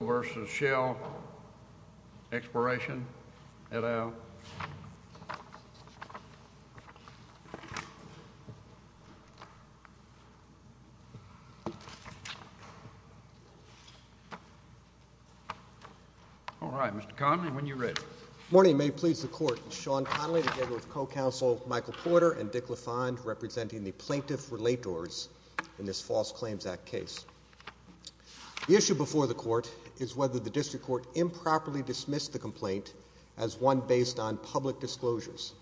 Little v. Shell, Exploration, et al. All right, Mr. Connolly, when you're ready. Good morning, and may it please the Court. I'm Sean Connolly, together with co-counsel Michael Porter and Dick LaFond, representing the plaintiffs' relators in this False Claims Act case. The issue before the Court is whether the District Court improperly dismissed the complaint as one based on public disclosures.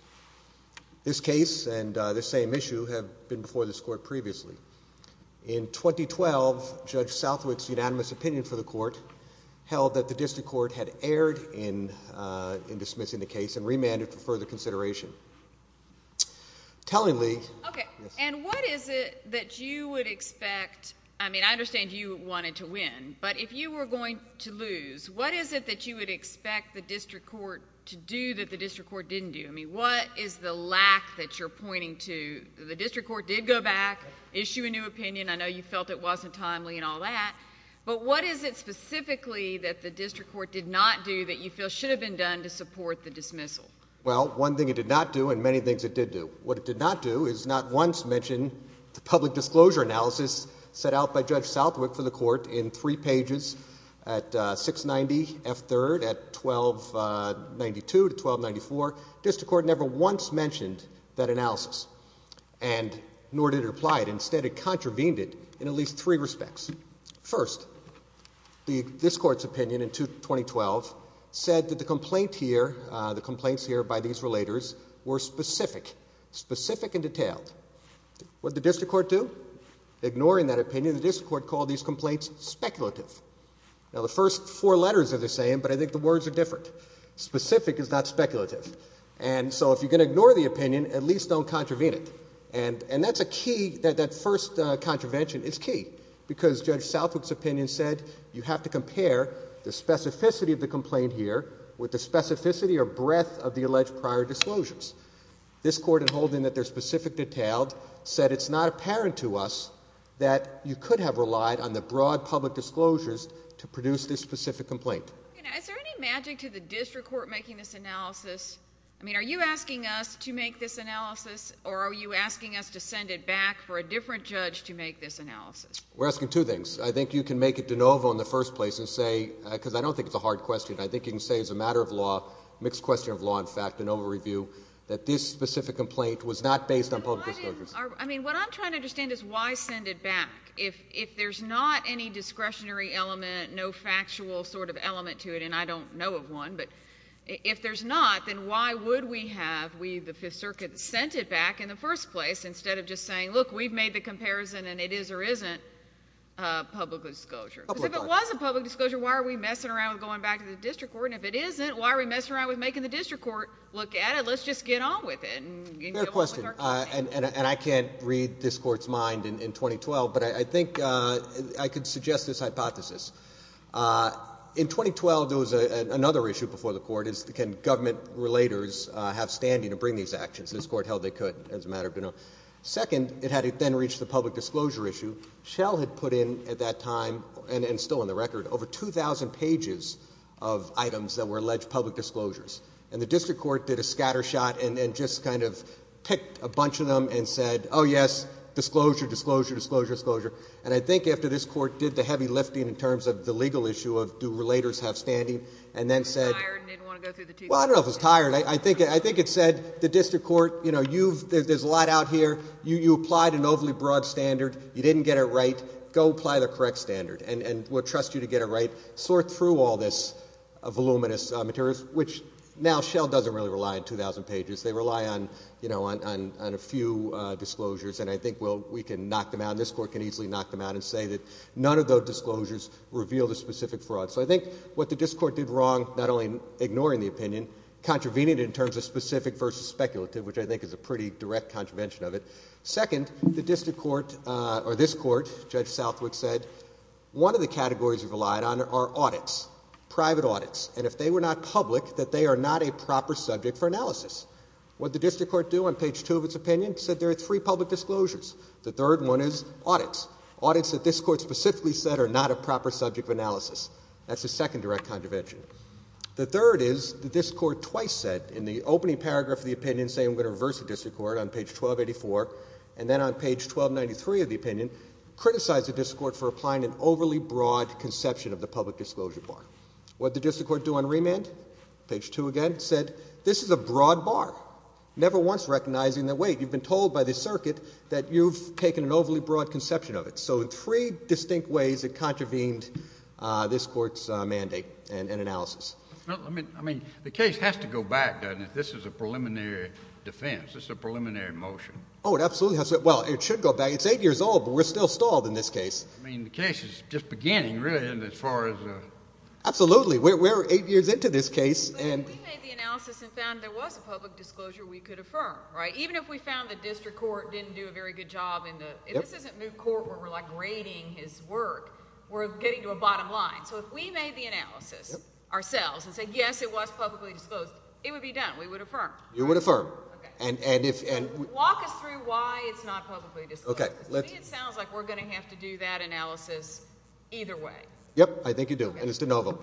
This case and this same issue have been before this Court previously. In 2012, Judge Southwick's unanimous opinion for the Court held that the District Court had erred in dismissing the case and remanded for further consideration. Tellingly— Okay, and what is it that you would expect—I mean, I understand you wanted to win, but if you were going to lose, what is it that you would expect the District Court to do that the District Court didn't do? I mean, what is the lack that you're pointing to? The District Court did go back, issue a new opinion. I know you felt it wasn't timely and all that, but what is it specifically that the District Court did not do that you feel should have been done to support the dismissal? Well, one thing it did not do and many things it did do. What it did not do is not once mention the public disclosure analysis set out by Judge Southwick for the Court in three pages at 690 F. 3rd at 1292 to 1294. The District Court never once mentioned that analysis, and nor did it apply it. Instead, it contravened it in at least three respects. First, this Court's opinion in 2012 said that the complaints here by these relators were specific, specific and detailed. What did the District Court do? Ignoring that opinion, the District Court called these complaints speculative. Now, the first four letters are the same, but I think the words are different. Specific is not speculative, and so if you're going to ignore the opinion, at least don't contravene it. And that's a key, that first contravention is key, because Judge Southwick's opinion said you have to compare the specificity of the complaint here with the specificity or breadth of the alleged prior disclosures. This Court, in holding that they're specific detailed, said it's not apparent to us that you could have relied on the broad public disclosures to produce this specific complaint. Is there any magic to the District Court making this analysis? I mean, are you asking us to make this analysis, or are you asking us to send it back for a different judge to make this analysis? We're asking two things. I think you can make it de novo in the first place and say, because I don't think it's a hard question. I think you can say as a matter of law, a mixed question of law, in fact, an overview, that this specific complaint was not based on public disclosures. I mean, what I'm trying to understand is why send it back. If there's not any discretionary element, no factual sort of element to it, and I don't know of one, but if there's not, then why would we have we, the Fifth Circuit, sent it back in the first place instead of just saying, look, we've made the comparison, and it is or isn't a public disclosure? Because if it was a public disclosure, why are we messing around with going back to the District Court? And if it isn't, why are we messing around with making the District Court look at it? Let's just get on with it. Fair question. And I can't read this Court's mind in 2012, but I think I could suggest this hypothesis. In 2012, there was another issue before the Court, is can government relators have standing to bring these actions? This Court held they could as a matter of de novo. Second, it had then reached the public disclosure issue. Shell had put in at that time, and still in the record, over 2,000 pages of items that were alleged public disclosures. And the District Court did a scatter shot and just kind of picked a bunch of them and said, oh, yes, disclosure, disclosure, disclosure, disclosure. And I think after this Court did the heavy lifting in terms of the legal issue of do relators have standing, and then said... Tired and didn't want to go through the two... Well, I don't know if it was tired. I think it said, the District Court, you know, you've, there's a lot out here. You applied an overly broad standard. You didn't get it right. Go apply the correct standard, and we'll trust you to get it right. Sort through all this voluminous materials, which now Shell doesn't really rely on 2,000 pages. They rely on, you know, on a few disclosures. And I think we'll, we can knock them out. This Court can easily knock them out and say that none of those disclosures reveal the specific fraud. So I think what the District Court did wrong, not only ignoring the opinion, contravening it in terms of specific versus speculative, which I think is a pretty direct contravention of it. Second, the District Court, or this Court, Judge Southwick said, one of the categories you relied on are audits, private audits. And if they were not public, that they are not a proper subject for analysis. What did the District Court do on page two of its opinion? It said there are three public disclosures. The third one is audits. Audits that this Court specifically said are not a proper subject of analysis. That's a second direct contravention. The third is that this Court twice said in the opening paragraph of the opinion, saying we're going to reverse the District Court on page 1284, and then on page 1293 of the opinion, criticized the District Court for applying an overly broad conception of the public disclosure bar. What did the District Court do on remand? Page two again said this is a broad bar, never once recognizing that, wait, you've been told by the circuit that you've taken an overly broad conception of it. So three distinct ways it contravened this Court's mandate and analysis. I mean, the case has to go back, doesn't it? This is a preliminary defense. This is a preliminary motion. Oh, it absolutely has to go back. It should go back. It's eight years old, but we're still stalled in this case. I mean, the case is just beginning, really, as far as... Absolutely. We're eight years into this case. We made the analysis and found there was a public disclosure we could affirm, right? Even if we found the District Court didn't do a very good job in the... This isn't new court where we're, like, rating his work. We're getting to a bottom line. So if we made the analysis ourselves and said, yes, it was publicly disclosed, it would be done. We would affirm. You would affirm. Walk us through why it's not publicly disclosed. To me, it sounds like we're going to have to do that analysis either way. Yep, I think you do, and it's de novo.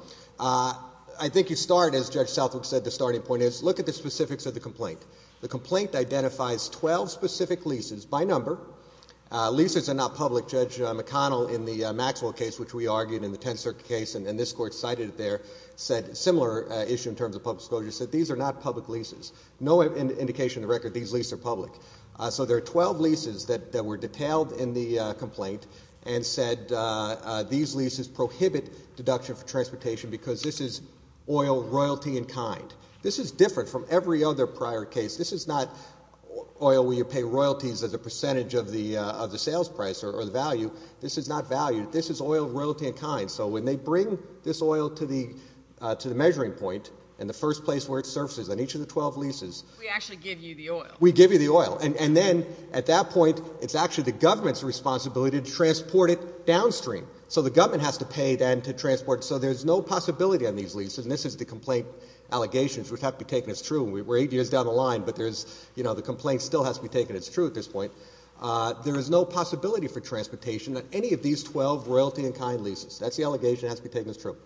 I think you start, as Judge Southwick said, the starting point is look at the specifics of the complaint. The complaint identifies 12 specific leases by number. Leases are not public. Judge McConnell in the Maxwell case, which we argued in the Tenth Circuit case, and this court cited it there, said a similar issue in terms of public disclosure, said these are not public leases. No indication of the record that these leases are public. So there are 12 leases that were detailed in the complaint and said these leases prohibit deduction for transportation because this is oil, royalty, and kind. This is different from every other prior case. This is not oil where you pay royalties as a percentage of the sales price or the value. This is not value. This is oil, royalty, and kind. So when they bring this oil to the measuring point in the first place where it surfaces on each of the 12 leases. We actually give you the oil. We give you the oil. And then at that point, it's actually the government's responsibility to transport it downstream. So the government has to pay then to transport it. So there's no possibility on these leases, and this is the complaint allegations which have to be taken as true. We're eight years down the line, but there's, you know, the complaint still has to be taken as true at this point. There is no possibility for transportation on any of these 12 royalty and kind leases. That's the allegation that has to be taken as true.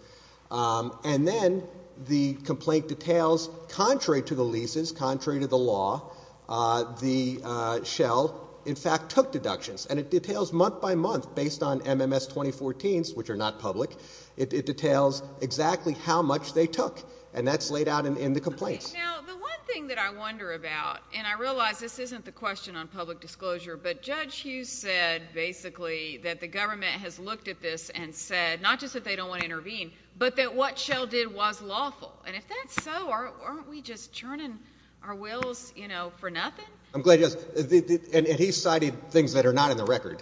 And then the complaint details contrary to the leases, contrary to the law, the Shell, in fact, took deductions. And it details month by month based on MMS 2014s, which are not public. It details exactly how much they took. And that's laid out in the complaints. Now, the one thing that I wonder about, and I realize this isn't the question on public disclosure, but Judge Hughes said basically that the government has looked at this and said not just that they don't want to intervene, but that what Shell did was lawful. And if that's so, aren't we just churning our wills, you know, for nothing? I'm glad you asked. And he cited things that are not in the record.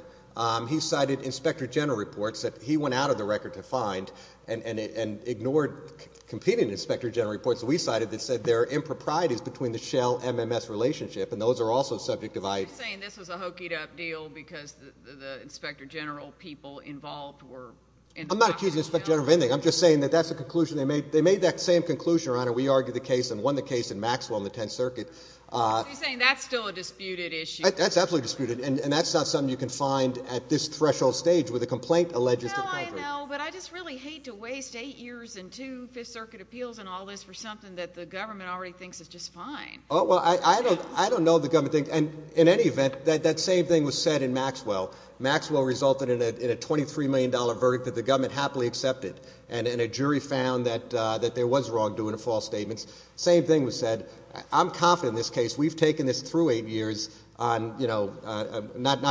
He cited inspector general reports that he went out of the record to find and ignored competing inspector general reports that we cited that said there are improprieties between the Shell-MMS relationship, and those are also subject to vice. Are you saying this was a hokeyed-up deal because the inspector general people involved were involved? I'm not accusing the inspector general of anything. I'm just saying that that's the conclusion they made. They made that same conclusion, Your Honor. We argued the case and won the case in Maxwell in the Tenth Circuit. So you're saying that's still a disputed issue? That's absolutely disputed. And that's not something you can find at this threshold stage where the complaint alleges to be contrary. I know, but I just really hate to waste eight years and two Fifth Circuit appeals and all this for something that the government already thinks is just fine. Oh, well, I don't know the government thinks. And in any event, that same thing was said in Maxwell. Maxwell resulted in a $23 million verdict that the government happily accepted, and a jury found that there was wrongdoing and false statements. Same thing was said. I'm confident in this case. We've taken this through eight years, not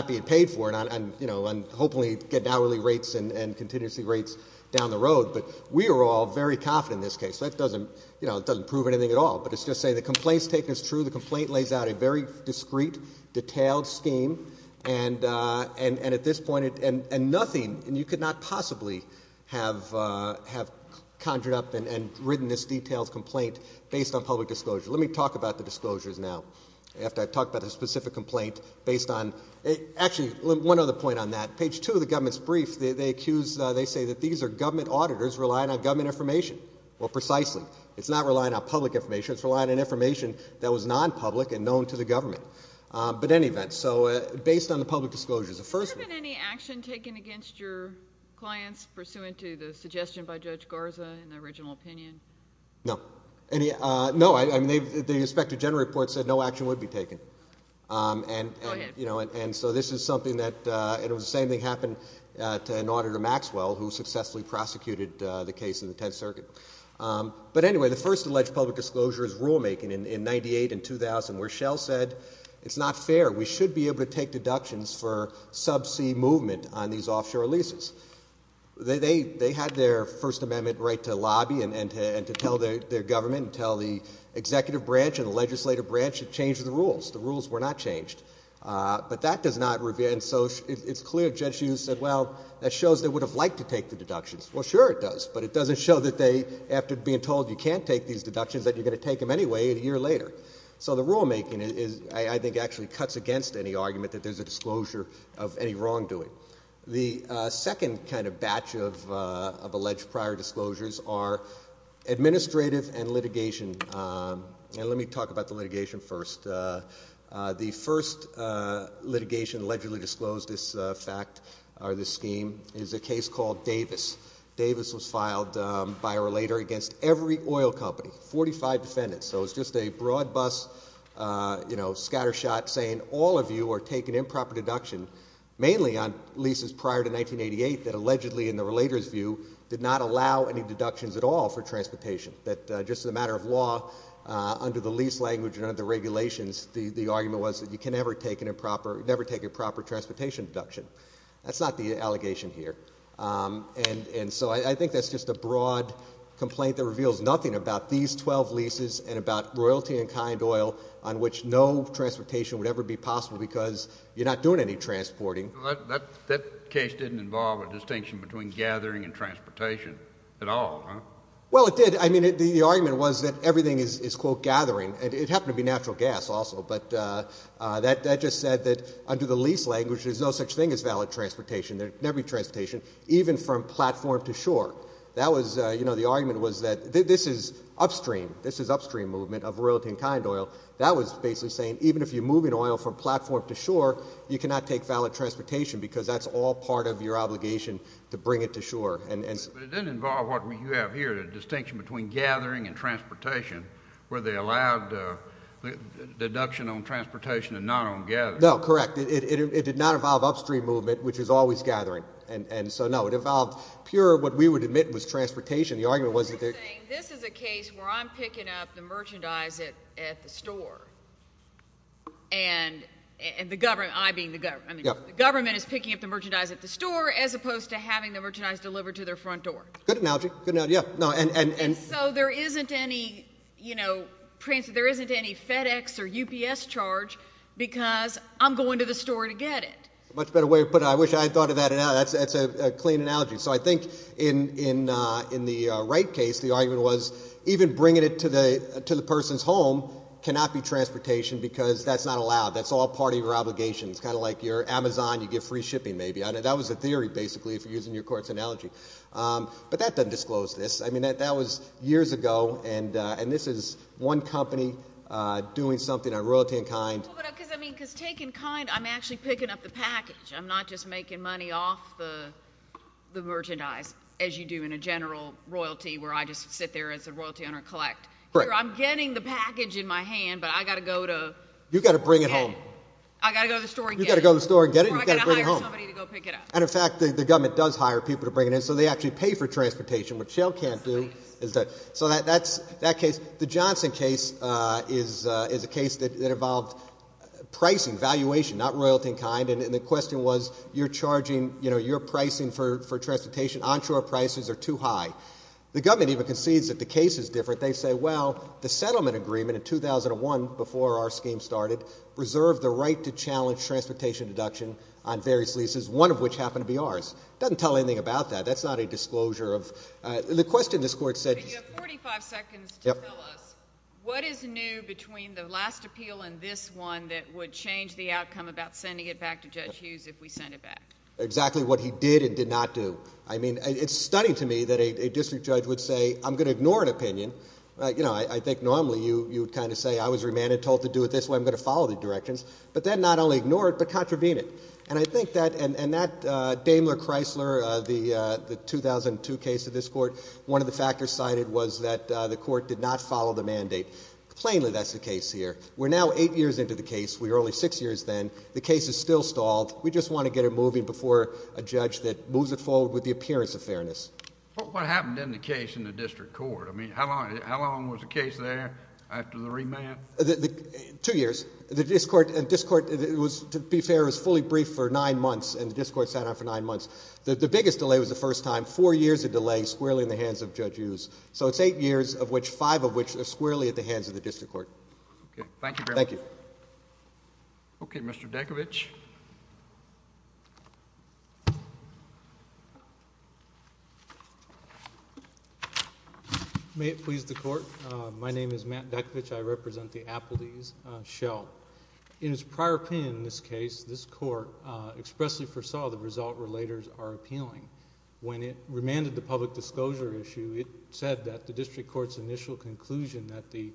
being paid for it, and hopefully getting hourly rates and contingency rates down the road. But we are all very confident in this case. That doesn't prove anything at all. But it's just saying the complaint's taken as true. The complaint lays out a very discreet, detailed scheme. And at this point, nothing, and you could not possibly have conjured up and written this detailed complaint based on public disclosure. Let me talk about the disclosures now. After I've talked about the specific complaint based on – actually, one other point on that. Page 2 of the government's brief, they accuse – they say that these are government auditors relying on government information. Well, precisely. It's not relying on public information. It's relying on information that was non-public and known to the government. But in any event, so based on the public disclosures, the first – Has there been any action taken against your clients pursuant to the suggestion by Judge Garza in the original opinion? No. No, I mean, the Inspector General report said no action would be taken. Go ahead. And so this is something that – and it was the same thing happened to an auditor, Maxwell, who successfully prosecuted the case in the Tenth Circuit. But anyway, the first alleged public disclosure is rulemaking in 98 and 2000, where Shell said it's not fair. We should be able to take deductions for subsea movement on these offshore leases. They had their First Amendment right to lobby and to tell their government and tell the executive branch and the legislative branch to change the rules. The rules were not changed. But that does not – and so it's clear Judge Hughes said, well, that shows they would have liked to take the deductions. Well, sure it does, but it doesn't show that they – after being told you can't take these deductions, that you're going to take them anyway a year later. So the rulemaking, I think, actually cuts against any argument that there's a disclosure of any wrongdoing. The second kind of batch of alleged prior disclosures are administrative and litigation. And let me talk about the litigation first. The first litigation allegedly disclosed this fact or this scheme is a case called Davis. Davis was filed by or later against every oil company, 45 defendants. So it's just a broad-bust scattershot saying all of you are taking improper deduction, mainly on leases prior to 1988 that allegedly, in the relator's view, did not allow any deductions at all for transportation. That just as a matter of law, under the lease language and under the regulations, the argument was that you can never take an improper – never take a proper transportation deduction. That's not the allegation here. And so I think that's just a broad complaint that reveals nothing about these 12 leases and about royalty and kind oil on which no transportation would ever be possible because you're not doing any transporting. That case didn't involve a distinction between gathering and transportation at all, huh? Well, it did. I mean, the argument was that everything is, quote, gathering. And it happened to be natural gas also, but that just said that under the lease language there's no such thing as valid transportation, there can never be transportation, even from platform to shore. That was – you know, the argument was that this is upstream. This is upstream movement of royalty and kind oil. That was basically saying even if you're moving oil from platform to shore, you cannot take valid transportation because that's all part of your obligation to bring it to shore. But it didn't involve what you have here, the distinction between gathering and transportation, where they allowed deduction on transportation and not on gathering. No, correct. It did not involve upstream movement, which is always gathering. And so, no, it involved pure what we would admit was transportation. This is a case where I'm picking up the merchandise at the store, and the government, I being the government, the government is picking up the merchandise at the store as opposed to having the merchandise delivered to their front door. Good analogy. And so there isn't any, you know, there isn't any FedEx or UPS charge because I'm going to the store to get it. Much better way to put it. I wish I had thought of that. That's a clean analogy. So I think in the Wright case, the argument was even bringing it to the person's home cannot be transportation because that's not allowed. That's all part of your obligation. It's kind of like your Amazon, you get free shipping maybe. That was a theory, basically, if you're using your court's analogy. But that doesn't disclose this. I mean, that was years ago, and this is one company doing something on royalty and kind. Because, I mean, because taking kind, I'm actually picking up the package. I'm not just making money off the merchandise as you do in a general royalty where I just sit there as a royalty owner and collect. I'm getting the package in my hand, but I've got to go to get it. You've got to bring it home. I've got to go to the store and get it. You've got to go to the store and get it. Or I've got to hire somebody to go pick it up. And, in fact, the government does hire people to bring it in, so they actually pay for transportation. What Shell can't do is that. So that's that case. The Johnson case is a case that involved pricing, valuation, not royalty and kind. And the question was, you're charging, you know, you're pricing for transportation. Onshore prices are too high. The government even concedes that the case is different. They say, well, the settlement agreement in 2001, before our scheme started, reserved the right to challenge transportation deduction on various leases, one of which happened to be ours. It doesn't tell anything about that. That's not a disclosure of the question this court said. You have 45 seconds to tell us what is new between the last appeal and this one that would change the outcome about sending it back to Judge Hughes if we sent it back. Exactly what he did and did not do. I mean, it's stunning to me that a district judge would say, I'm going to ignore an opinion. You know, I think normally you would kind of say, I was remanded, told to do it this way, I'm going to follow the directions. But then not only ignore it, but contravene it. And I think that, and that Daimler-Chrysler, the 2002 case of this court, one of the factors cited was that the court did not follow the mandate. Plainly that's the case here. We're now eight years into the case. We were only six years then. The case is still stalled. We just want to get it moving before a judge that moves it forward with the appearance of fairness. What happened in the case in the district court? I mean, how long was the case there after the remand? Two years. Two years. The district court, to be fair, was fully briefed for nine months. And the district court sat on it for nine months. The biggest delay was the first time. Four years of delay squarely in the hands of Judge Hughes. So it's eight years, five of which are squarely at the hands of the district court. Okay. Thank you very much. Thank you. Okay. Mr. Dakovich. May it please the court. My name is Matt Dakovich. I represent the Appleteys shell. In its prior opinion in this case, this court expressly foresaw the result relators are appealing. When it remanded the public disclosure issue, it said that the district court's initial conclusion that the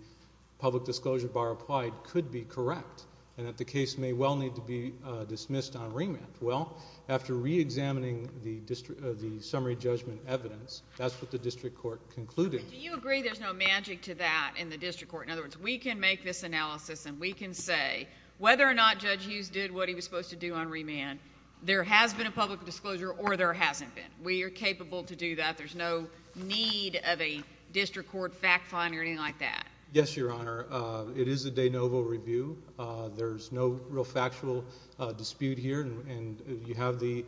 public disclosure bar applied could be correct and that the case may well need to be dismissed on remand. Well, after reexamining the summary judgment evidence, that's what the district court concluded. Do you agree there's no magic to that in the district court? In other words, we can make this analysis and we can say whether or not Judge Hughes did what he was supposed to do on remand, there has been a public disclosure or there hasn't been. We are capable to do that. There's no need of a district court fact-finding or anything like that. Yes, Your Honor. It is a de novo review. There's no real factual dispute here. And you have the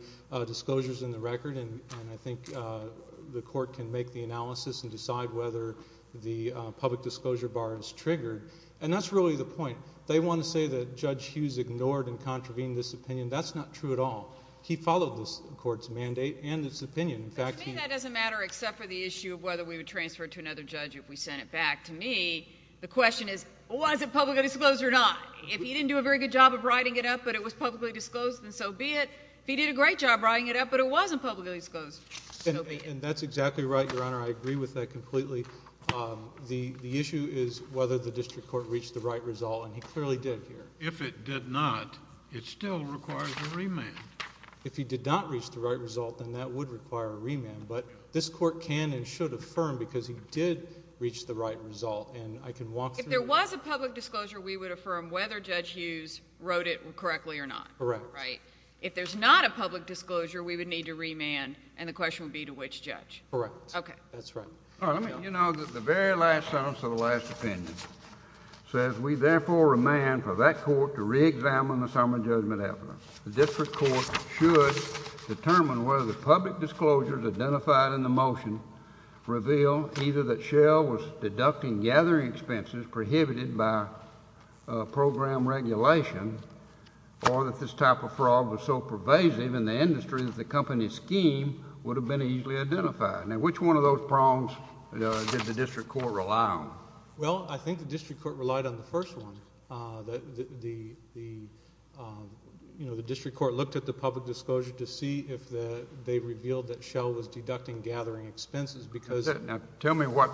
disclosures in the record. And I think the court can make the analysis and decide whether the public disclosure bar is triggered. And that's really the point. They want to say that Judge Hughes ignored and contravened this opinion. That's not true at all. He followed this court's mandate and its opinion. But to me, that doesn't matter except for the issue of whether we would transfer it to another judge if we sent it back. To me, the question is, was it publicly disclosed or not? If he didn't do a very good job of writing it up but it was publicly disclosed, then so be it. If he did a great job writing it up but it wasn't publicly disclosed, so be it. And that's exactly right, Your Honor. I agree with that completely. The issue is whether the district court reached the right result, and he clearly did here. If it did not, it still requires a remand. If he did not reach the right result, then that would require a remand. But this court can and should affirm because he did reach the right result. If there was a public disclosure, we would affirm whether Judge Hughes wrote it correctly or not. Correct. Right. If there's not a public disclosure, we would need to remand, and the question would be to which judge. Correct. Okay. That's right. All right, let me go. You know, the very last sentence of the last opinion says, We therefore remand for that court to reexamine the summary judgment evidence. The district court should determine whether the public disclosures identified in the motion reveal either that Shell was deducting gathering expenses prohibited by program regulation or that this type of fraud was so pervasive in the industry that the company's scheme would have been easily identified. Now, which one of those prongs did the district court rely on? Well, I think the district court relied on the first one. The district court looked at the public disclosure to see if they revealed that Shell was deducting gathering expenses. Now, tell me what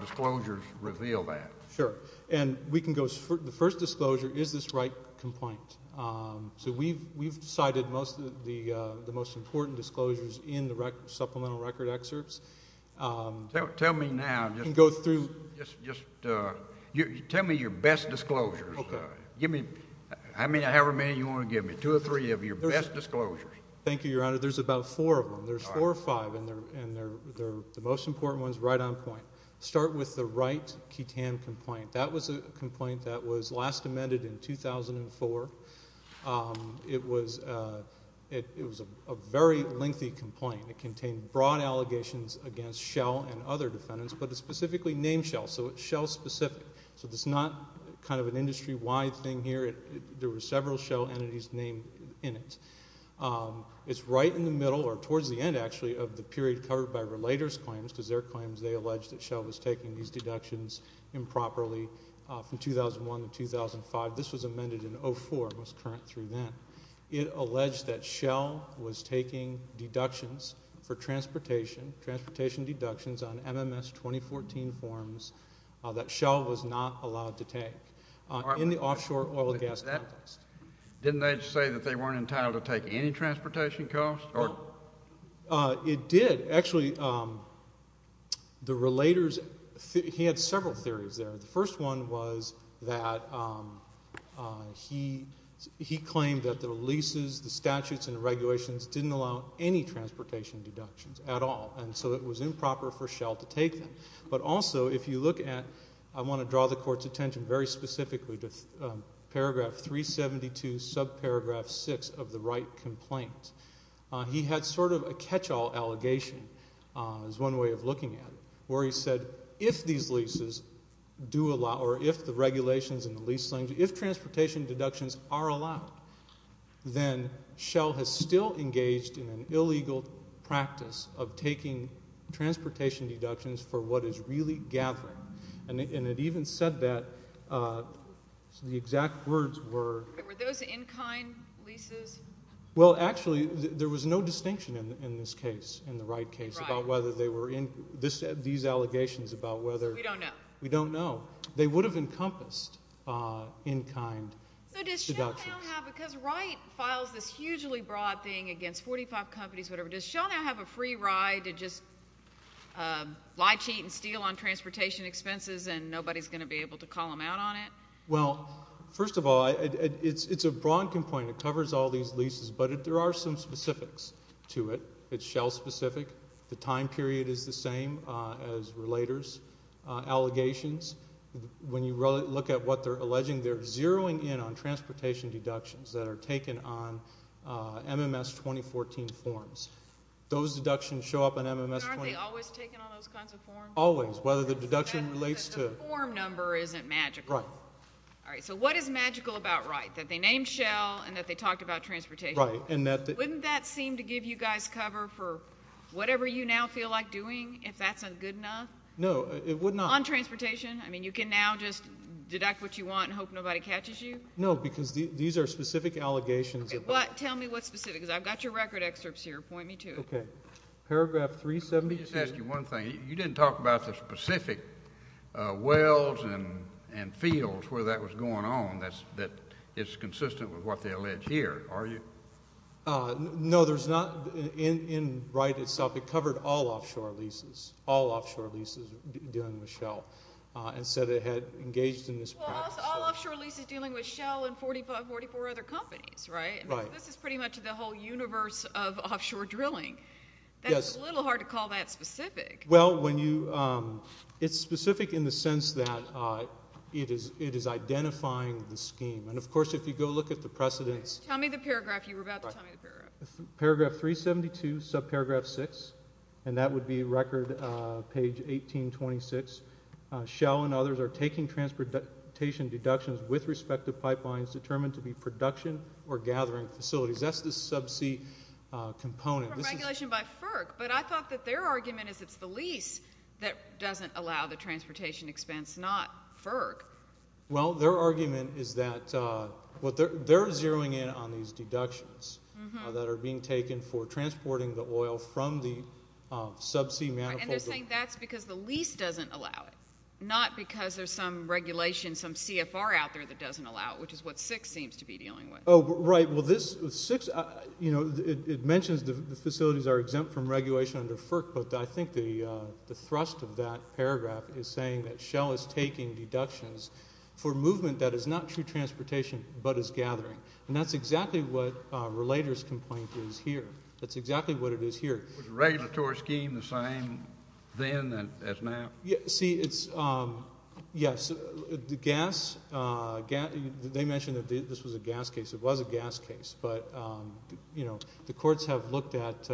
disclosures reveal that. Sure. And the first disclosure is this right complaint. So we've cited most of the most important disclosures in the supplemental record excerpts. Tell me now. You can go through. Just tell me your best disclosures. Okay. Give me however many you want to give me, two or three of your best disclosures. Thank you, Your Honor. There's about four of them. There's four or five, and the most important one is right on point. Start with the right QTAM complaint. That was a complaint that was last amended in 2004. It was a very lengthy complaint. It contained broad allegations against Shell and other defendants, but it specifically named Shell, so it's Shell-specific. So it's not kind of an industry-wide thing here. There were several Shell entities named in it. It's right in the middle or towards the end, actually, of the period covered by relator's claims, because they're claims they alleged that Shell was taking these deductions improperly from 2001 to 2005. This was amended in 2004 and was current through then. It alleged that Shell was taking deductions for transportation, transportation deductions on MMS 2014 forms that Shell was not allowed to take in the offshore oil and gas context. Didn't they say that they weren't entitled to take any transportation costs? It did. Actually, the relators, he had several theories there. The first one was that he claimed that the leases, the statutes, and the regulations didn't allow any transportation deductions at all, and so it was improper for Shell to take them. But also, if you look at, I want to draw the court's attention very specifically to paragraph 372, subparagraph 6 of the Wright complaint. He had sort of a catch-all allegation as one way of looking at it, where he said, if these leases do allow or if the regulations and the lease claims, if transportation deductions are allowed, then Shell has still engaged in an illegal practice of taking transportation deductions for what is really gathering. And it even said that the exact words were- Were those in-kind leases? Well, actually, there was no distinction in this case, in the Wright case, about whether they were in- these allegations about whether- So we don't know. We don't know. They would have encompassed in-kind deductions. So does Shell now have, because Wright files this hugely broad thing against 45 companies, whatever, does Shell now have a free ride to just lie, cheat, and steal on transportation expenses, and nobody's going to be able to call them out on it? Well, first of all, it's a broad complaint. It covers all these leases, but there are some specifics to it. It's Shell-specific. The time period is the same as Relator's allegations. When you look at what they're alleging, they're zeroing in on transportation deductions that are taken on MMS 2014 forms. Those deductions show up on MMS 2014- But aren't they always taken on those kinds of forms? Always, whether the deduction relates to- The form number isn't magical. Right. All right, so what is magical about Wright, that they named Shell and that they talked about transportation? Right, and that- Wouldn't that seem to give you guys cover for whatever you now feel like doing, if that's good enough? No, it would not. On transportation? I mean, you can now just deduct what you want and hope nobody catches you? No, because these are specific allegations. Tell me what's specific, because I've got your record excerpts here. Point me to it. Okay. Paragraph 376. Let me just ask you one thing. You didn't talk about the specific wells and fields where that was going on, that it's consistent with what they allege here, are you? No, there's not. In Wright itself, it covered all offshore leases, all offshore leases dealing with Shell, and said it had engaged in this practice. Well, all offshore leases dealing with Shell and 44 other companies, right? Right. This is pretty much the whole universe of offshore drilling. That's a little hard to call that specific. Well, it's specific in the sense that it is identifying the scheme, and of course, if you go look at the precedents- Tell me the paragraph you were about to tell me the paragraph. Paragraph 372, subparagraph 6, and that would be record page 1826. Shell and others are taking transportation deductions with respective pipelines determined to be production or gathering facilities. That's the sub-C component. This is regulation by FERC, but I thought that their argument is it's the lease that doesn't allow the transportation expense, not FERC. Well, their argument is that they're zeroing in on these deductions that are being taken for transporting the oil from the sub-C manifold- And they're saying that's because the lease doesn't allow it, not because there's some regulation, some CFR out there that doesn't allow it, which is what 6 seems to be dealing with. Oh, right. Well, it mentions the facilities are exempt from regulation under FERC, but I think the thrust of that paragraph is saying that Shell is taking deductions for movement that is not true transportation but is gathering. And that's exactly what Relator's complaint is here. That's exactly what it is here. Was the regulatory scheme the same then as now? See, it's – yes, the gas – they mentioned that this was a gas case. It was a gas case, but, you know, the courts have looked at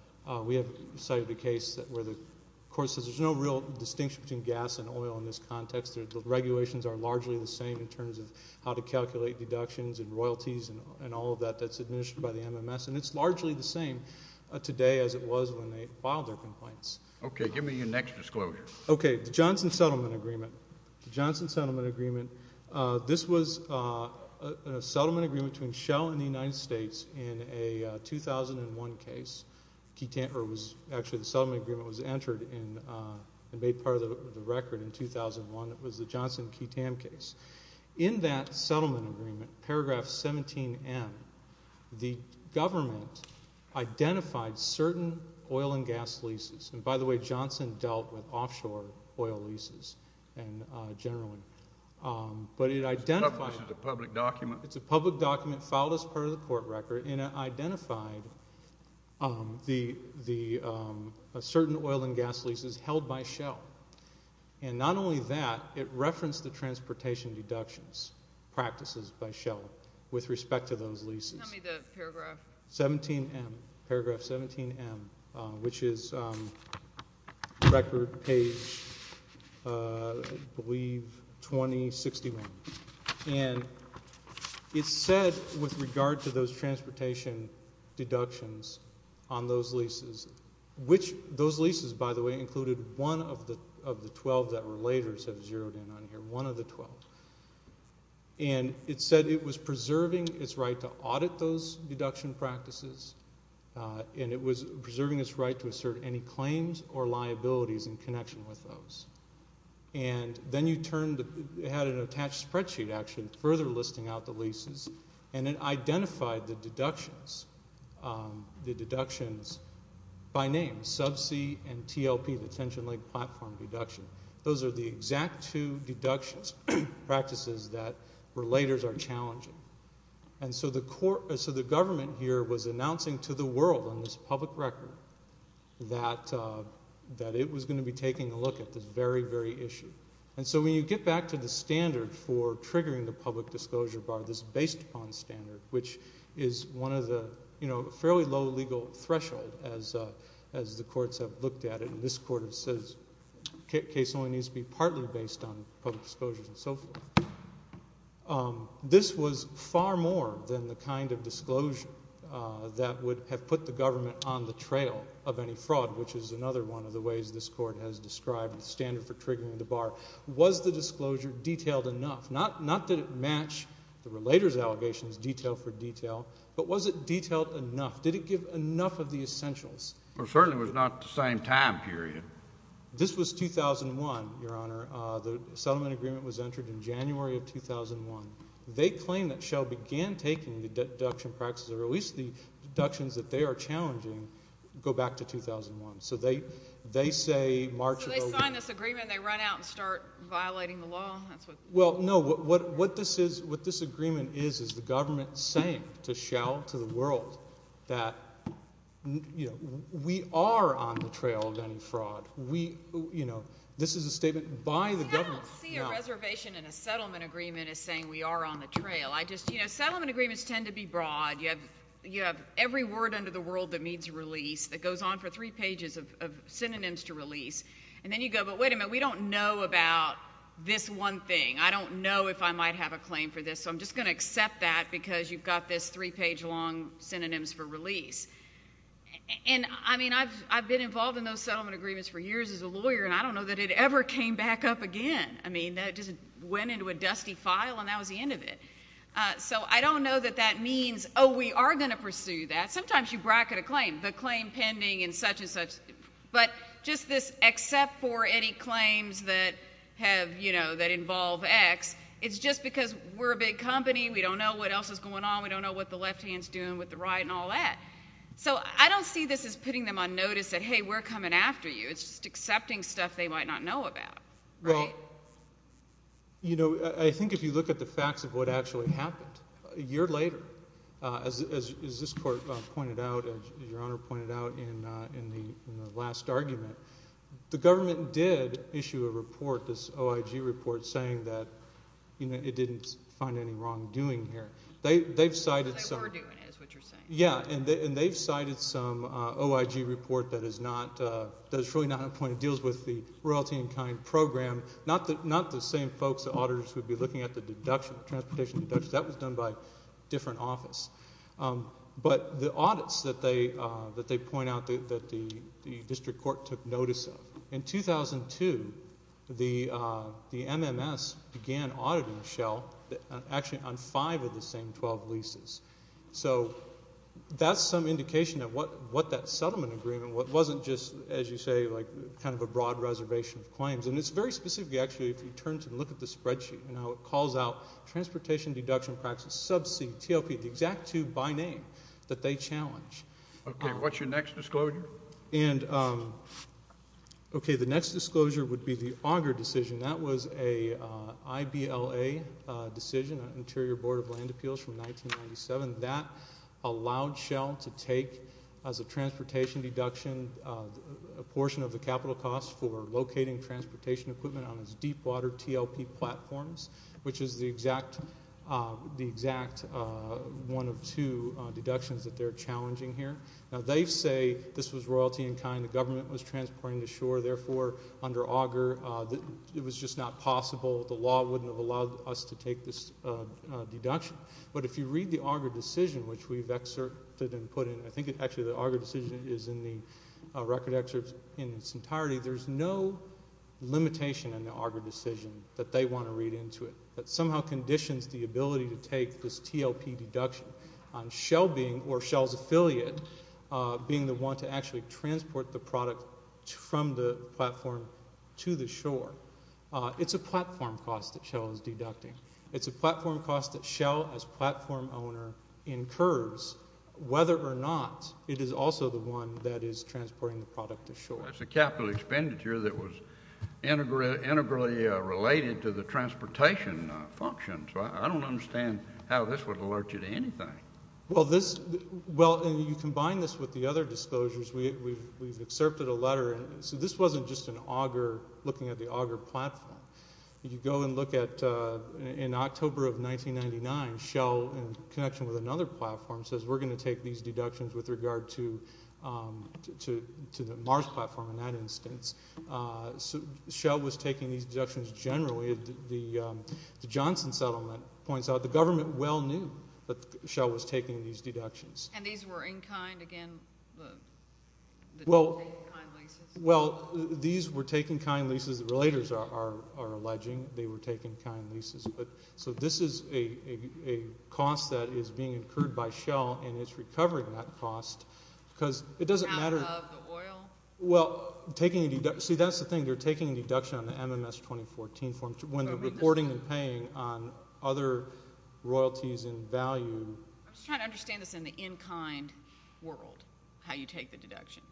– we have cited a case where the court says there's no real distinction between gas and oil in this context. The regulations are largely the same in terms of how to calculate deductions and royalties and all of that that's administered by the MMS, and it's largely the same today as it was when they filed their complaints. Okay. Give me your next disclosure. Okay. The Johnson Settlement Agreement. The Johnson Settlement Agreement. This was a settlement agreement between Shell and the United States in a 2001 case. Actually, the settlement agreement was entered and made part of the record in 2001. It was the Johnson-Ketam case. In that settlement agreement, paragraph 17M, the government identified certain oil and gas leases. And, by the way, Johnson dealt with offshore oil leases generally. But it identified – This is a public document. It's a public document filed as part of the court record, and it identified the – certain oil and gas leases held by Shell. And not only that, it referenced the transportation deductions practices by Shell with respect to those leases. Tell me the paragraph. 17M, paragraph 17M, which is record page, I believe, 2061. And it said with regard to those transportation deductions on those leases – which those leases, by the way, included one of the 12 that were laters have zeroed in on here, one of the 12. And it said it was preserving its right to audit those deduction practices, and it was preserving its right to assert any claims or liabilities in connection with those. And then you turned – it had an attached spreadsheet, actually, further listing out the leases, and it identified the deductions, the deductions by name, sub C and TLP, the Tension Lake Platform deduction. Those are the exact two deductions, practices that were laters are challenging. And so the government here was announcing to the world on this public record that it was going to be taking a look at this very, very issue. And so when you get back to the standard for triggering the public disclosure bar, this based upon standard, which is one of the fairly low legal threshold as the courts have looked at it, and this court says case only needs to be partly based on public disclosures and so forth. This was far more than the kind of disclosure that would have put the government on the trail of any fraud, which is another one of the ways this court has described the standard for triggering the bar. Was the disclosure detailed enough? Not that it matched the relators' allegations detail for detail, but was it detailed enough? Did it give enough of the essentials? Well, it certainly was not the same time period. This was 2001, Your Honor. The settlement agreement was entered in January of 2001. They claim that Shell began taking the deduction practices, or at least the deductions that they are challenging, go back to 2001. So they say March of 2001. So they sign this agreement and they run out and start violating the law? Well, no. What this agreement is is the government saying to Shell, to the world, that we are on the trail of any fraud. This is a statement by the government. I don't see a reservation in a settlement agreement as saying we are on the trail. Settlement agreements tend to be broad. You have every word under the world that means release that goes on for three pages of synonyms to release. And then you go, but wait a minute, we don't know about this one thing. I don't know if I might have a claim for this, so I'm just going to accept that because you've got this three-page long synonyms for release. And, I mean, I've been involved in those settlement agreements for years as a lawyer, and I don't know that it ever came back up again. I mean, that just went into a dusty file and that was the end of it. So I don't know that that means, oh, we are going to pursue that. Sometimes you bracket a claim, the claim pending and such and such. But just this except for any claims that have, you know, that involve X, it's just because we're a big company, we don't know what else is going on, we don't know what the left hand is doing with the right and all that. So I don't see this as putting them on notice that, hey, we're coming after you. It's just accepting stuff they might not know about. Well, you know, I think if you look at the facts of what actually happened, a year later, as this Court pointed out, as Your Honor pointed out in the last argument, the government did issue a report, this OIG report, saying that it didn't find any wrongdoing here. They've cited some. They were doing it is what you're saying. Yeah, and they've cited some OIG report that is not, that is truly not on point. It deals with the royalty in kind program, not the same folks the auditors would be looking at the deductions, transportation deductions. That was done by a different office. But the audits that they point out that the district court took notice of, in 2002, the MMS began auditing the shell, actually on five of the same 12 leases. So that's some indication of what that settlement agreement wasn't just, as you say, like kind of a broad reservation of claims. And it's very specific, actually, if you turn to look at the spreadsheet and how it calls out transportation deduction practices, sub C, TLP, the exact two by name that they challenge. Okay, what's your next disclosure? And, okay, the next disclosure would be the Auger decision. That was a IBLA decision, Interior Board of Land Appeals from 1997. That allowed shell to take as a transportation deduction a portion of the capital cost for locating transportation equipment on its deepwater TLP platforms, which is the exact one of two deductions that they're challenging here. Now, they say this was royalty in kind. The government was transporting to shore. Therefore, under Auger, it was just not possible. The law wouldn't have allowed us to take this deduction. But if you read the Auger decision, which we've excerpted and put in, I think actually the Auger decision is in the record excerpts in its entirety, there's no limitation in the Auger decision that they want to read into it. That somehow conditions the ability to take this TLP deduction on shell being or shell's affiliate being the one to actually transport the product from the platform to the shore. It's a platform cost that shell is deducting. It's a platform cost that shell, as platform owner, incurs, whether or not it is also the one that is transporting the product to shore. It's a capital expenditure that was integrally related to the transportation function. So I don't understand how this would alert you to anything. Well, you combine this with the other disclosures. We've excerpted a letter. So this wasn't just looking at the Auger platform. You go and look at in October of 1999, shell in connection with another platform says we're going to take these deductions with regard to the Mars platform in that instance. Shell was taking these deductions generally. The Johnson settlement points out the government well knew that shell was taking these deductions. And these were in kind, again, the taking kind leases? Well, these were taking kind leases. Relators are alleging they were taking kind leases. So this is a cost that is being incurred by shell, and it's recovering that cost because it doesn't matter. Out of the oil? Well, see, that's the thing. They're taking a deduction on the MMS 2014 form when they're reporting and paying on other royalties in value. I'm just trying to understand this in the in kind world, how you take the deduction.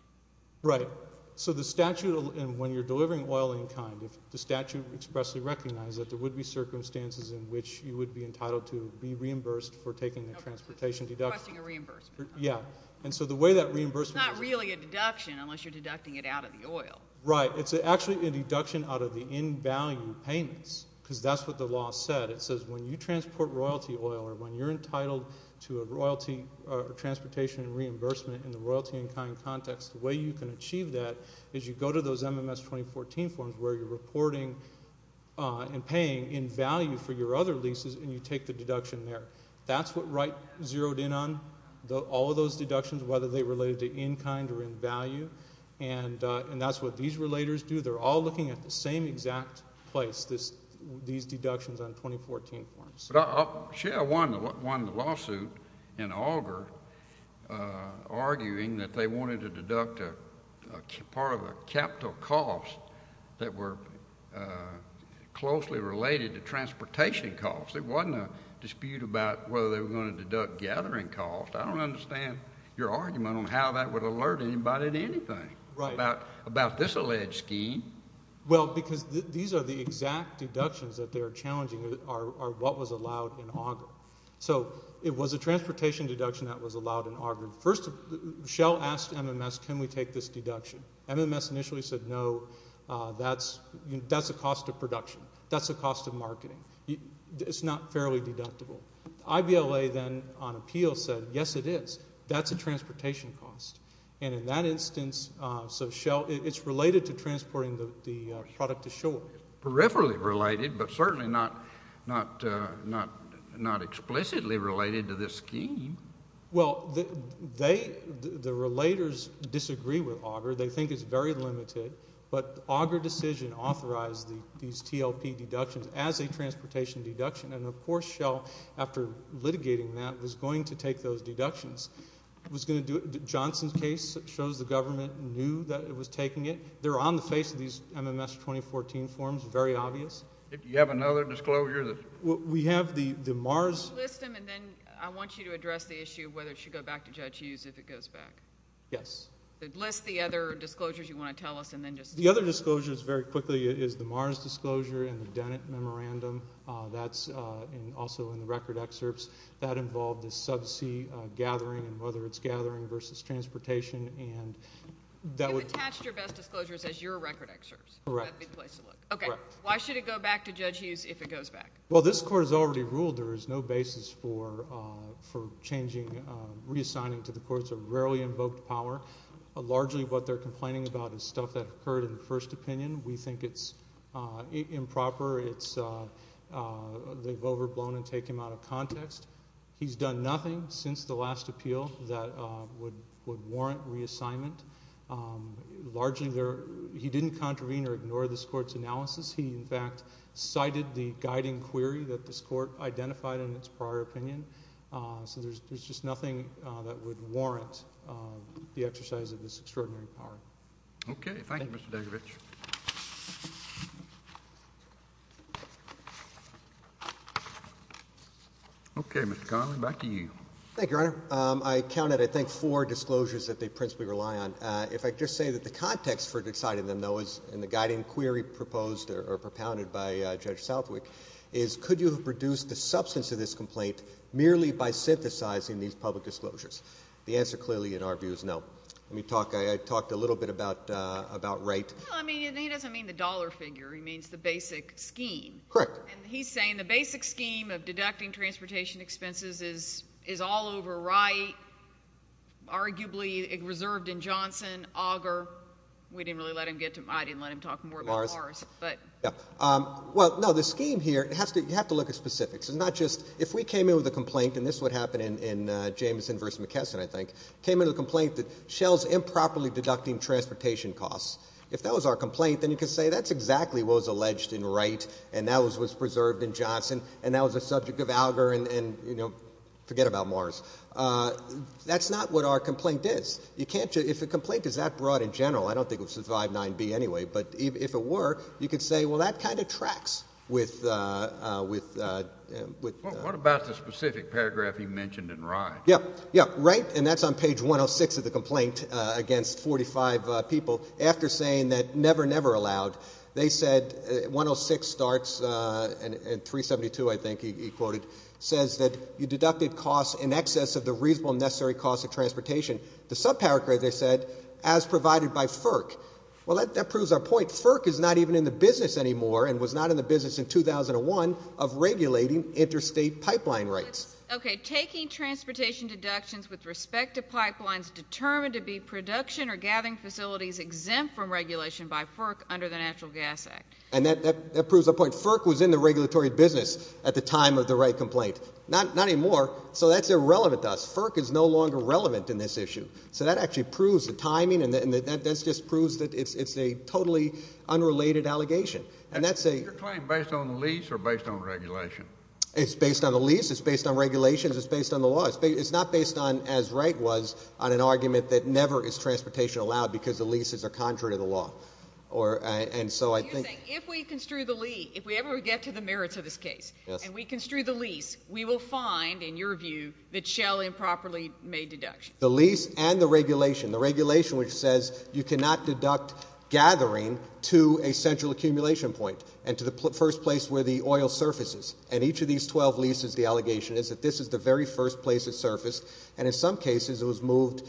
Right. So the statute, and when you're delivering oil in kind, if the statute expressly recognized that there would be circumstances in which you would be entitled to be reimbursed for taking the transportation deduction. Requesting a reimbursement. Yeah. It's not really a deduction unless you're deducting it out of the oil. Right. It's actually a deduction out of the in value payments because that's what the law said. It says when you transport royalty oil or when you're entitled to a transportation reimbursement in the royalty in kind context, the way you can achieve that is you go to those MMS 2014 forms where you're reporting and paying in value for your other leases and you take the deduction there. That's what Wright zeroed in on. All of those deductions, whether they related to in kind or in value, and that's what these relators do. They're all looking at the same exact place, these deductions on 2014 forms. But I'll share one lawsuit in Augur arguing that they wanted to deduct part of a capital cost that were closely related to transportation costs. There wasn't a dispute about whether they were going to deduct gathering costs. I don't understand your argument on how that would alert anybody to anything about this alleged scheme. Well, because these are the exact deductions that they're challenging are what was allowed in Augur. So it was a transportation deduction that was allowed in Augur. First, Shell asked MMS can we take this deduction. MMS initially said no. That's a cost of marketing. It's not fairly deductible. IBLA then on appeal said yes it is. That's a transportation cost. And in that instance, so Shell, it's related to transporting the product ashore. Peripherally related but certainly not explicitly related to this scheme. Well, they, the relators disagree with Augur. They think it's very limited. But Augur decision authorized these TLP deductions as a transportation deduction. And, of course, Shell after litigating that was going to take those deductions. It was going to do it. Johnson's case shows the government knew that it was taking it. They're on the face of these MMS 2014 forms, very obvious. Do you have another disclosure? We have the Mars. List them and then I want you to address the issue of whether it should go back to Judge Hughes if it goes back. Yes. List the other disclosures you want to tell us and then just. The other disclosures very quickly is the Mars disclosure and the Dennett memorandum. That's also in the record excerpts. That involved the subsea gathering and whether it's gathering versus transportation. And that would. You've attached your best disclosures as your record excerpts. Correct. That would be the place to look. Okay. Correct. Why should it go back to Judge Hughes if it goes back? Well, this court has already ruled there is no basis for changing, reassigning to the courts a rarely invoked power. Largely what they're complaining about is stuff that occurred in the first opinion. We think it's improper. They've overblown and taken him out of context. He's done nothing since the last appeal that would warrant reassignment. Largely, he didn't contravene or ignore this court's analysis. He, in fact, cited the guiding query that this court identified in its prior opinion. So there's just nothing that would warrant the exercise of this extraordinary power. Okay. Thank you, Mr. Dagovich. Okay, Mr. Connolly, back to you. Thank you, Your Honor. I counted, I think, four disclosures that they principally rely on. If I could just say that the context for deciding them, though, is in the guiding query proposed or propounded by Judge Southwick, is could you have reduced the substance of this complaint merely by synthesizing these public disclosures? The answer clearly, in our view, is no. Let me talk. I talked a little bit about Wright. Well, I mean, he doesn't mean the dollar figure. He means the basic scheme. Correct. And he's saying the basic scheme of deducting transportation expenses is all over Wright, arguably reserved in Johnson, Auger. We didn't really let him get to them. I didn't let him talk more about Mars. Well, no, the scheme here, you have to look at specifics. It's not just if we came in with a complaint, and this is what happened in Jameson v. McKesson, I think, came in with a complaint that shells improperly deducting transportation costs. If that was our complaint, then you could say that's exactly what was alleged in Wright, and that was preserved in Johnson, and that was a subject of Auger, and, you know, forget about Mars. That's not what our complaint is. If a complaint is that broad in general, I don't think it would survive 9b anyway, but if it were, you could say, well, that kind of tracks with. What about the specific paragraph you mentioned in Wright? Yeah, yeah, right, and that's on page 106 of the complaint against 45 people. After saying that never, never allowed, they said 106 starts, and 372, I think he quoted, says that you deducted costs in excess of the reasonable necessary cost of transportation. The subparagraph, they said, as provided by FERC. Well, that proves our point. FERC is not even in the business anymore and was not in the business in 2001 of regulating interstate pipeline rights. Okay, taking transportation deductions with respect to pipelines determined to be production or gathering facilities exempt from regulation by FERC under the Natural Gas Act. And that proves our point. FERC was in the regulatory business at the time of the Wright complaint. Not anymore, so that's irrelevant to us. FERC is no longer relevant in this issue. So that actually proves the timing, and that just proves that it's a totally unrelated allegation, and that's a... Is your claim based on the lease or based on regulation? It's based on the lease. It's based on regulations. It's based on the law. It's not based on, as Wright was, on an argument that never is transportation allowed because the leases are contrary to the law. And so I think... You're saying if we construe the lease, if we ever get to the merits of this case, and we construe the lease, we will find, in your view, that Shell improperly made deductions. The lease and the regulation, the regulation which says you cannot deduct gathering to a central accumulation point and to the first place where the oil surfaces. And each of these 12 leases, the allegation is that this is the very first place it surfaced, and in some cases it was moved...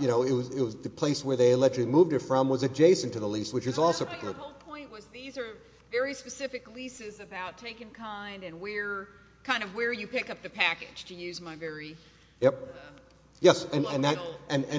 You know, it was... The place where they allegedly moved it from was adjacent to the lease, which is also... I thought your whole point was these are very specific leases about taking kind and where... Kind of where you pick up the package, to use my very... Yep. Yes, and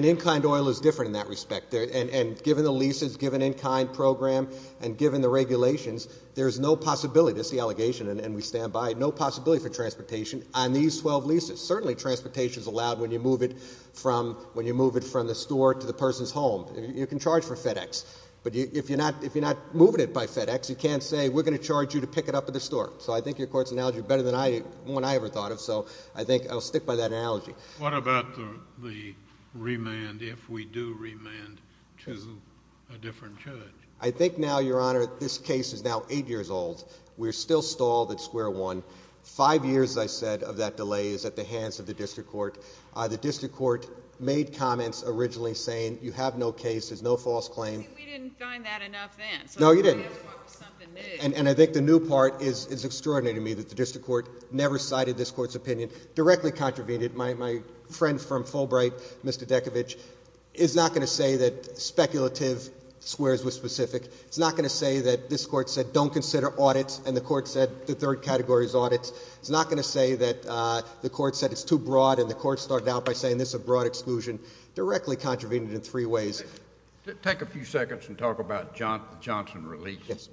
in-kind oil is different in that respect. And given the leases, given in-kind program, and given the regulations, there is no possibility... This is the allegation, and we stand by it. No possibility for transportation on these 12 leases. Certainly transportation is allowed when you move it from the store to the person's home. You can charge for FedEx, but if you're not moving it by FedEx, you can't say we're going to charge you to pick it up at the store. So I think your court's analogy is better than one I ever thought of, so I think I'll stick by that analogy. What about the remand if we do remand to a different judge? I think now, Your Honor, this case is now eight years old. We're still stalled at square one. Five years, as I said, of that delay is at the hands of the district court. The district court made comments originally saying you have no cases, no false claims. See, we didn't find that enough then. No, you didn't. And I think the new part is extraordinary to me that the district court never cited this court's opinion, directly contravened it. My friend from Fulbright, Mr. Dekovich, is not going to say that speculative squares were specific. It's not going to say that this court said don't consider audits, and the court said the third category is audits. It's not going to say that the court said it's too broad, and the court started out by saying this is a broad exclusion. Directly contravened it in three ways. Take a few seconds and talk about the Johnson release. Yes.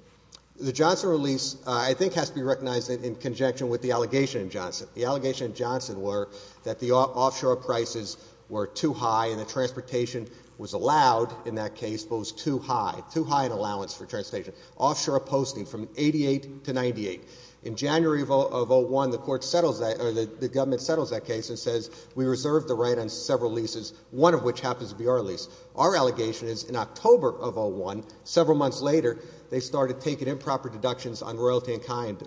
The Johnson release, I think, has to be recognized in conjunction with the allegation in Johnson. The allegation in Johnson were that the offshore prices were too high, and the transportation was allowed in that case, but was too high. Too high an allowance for transportation. Offshore posting from 88 to 98. In January of 01, the court settles that, or the government settles that case and says we reserve the right on several leases, one of which happens to be our lease. Our allegation is in October of 01, several months later, they started taking improper deductions on royalty and kind.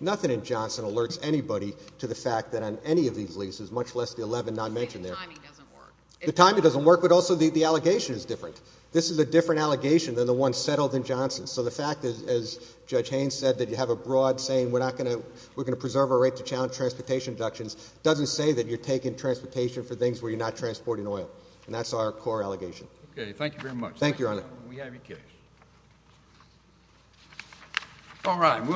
Nothing in Johnson alerts anybody to the fact that on any of these leases, much less the 11 not mentioned there. The timing doesn't work. The timing doesn't work, but also the allegation is different. This is a different allegation than the one settled in Johnson. So the fact is, as Judge Haynes said, that you have a broad saying we're going to preserve our right to challenge transportation deductions, doesn't say that you're taking transportation for things where you're not transporting oil, and that's our core allegation. Okay, thank you very much. Thank you, Your Honor. We have your case. All right.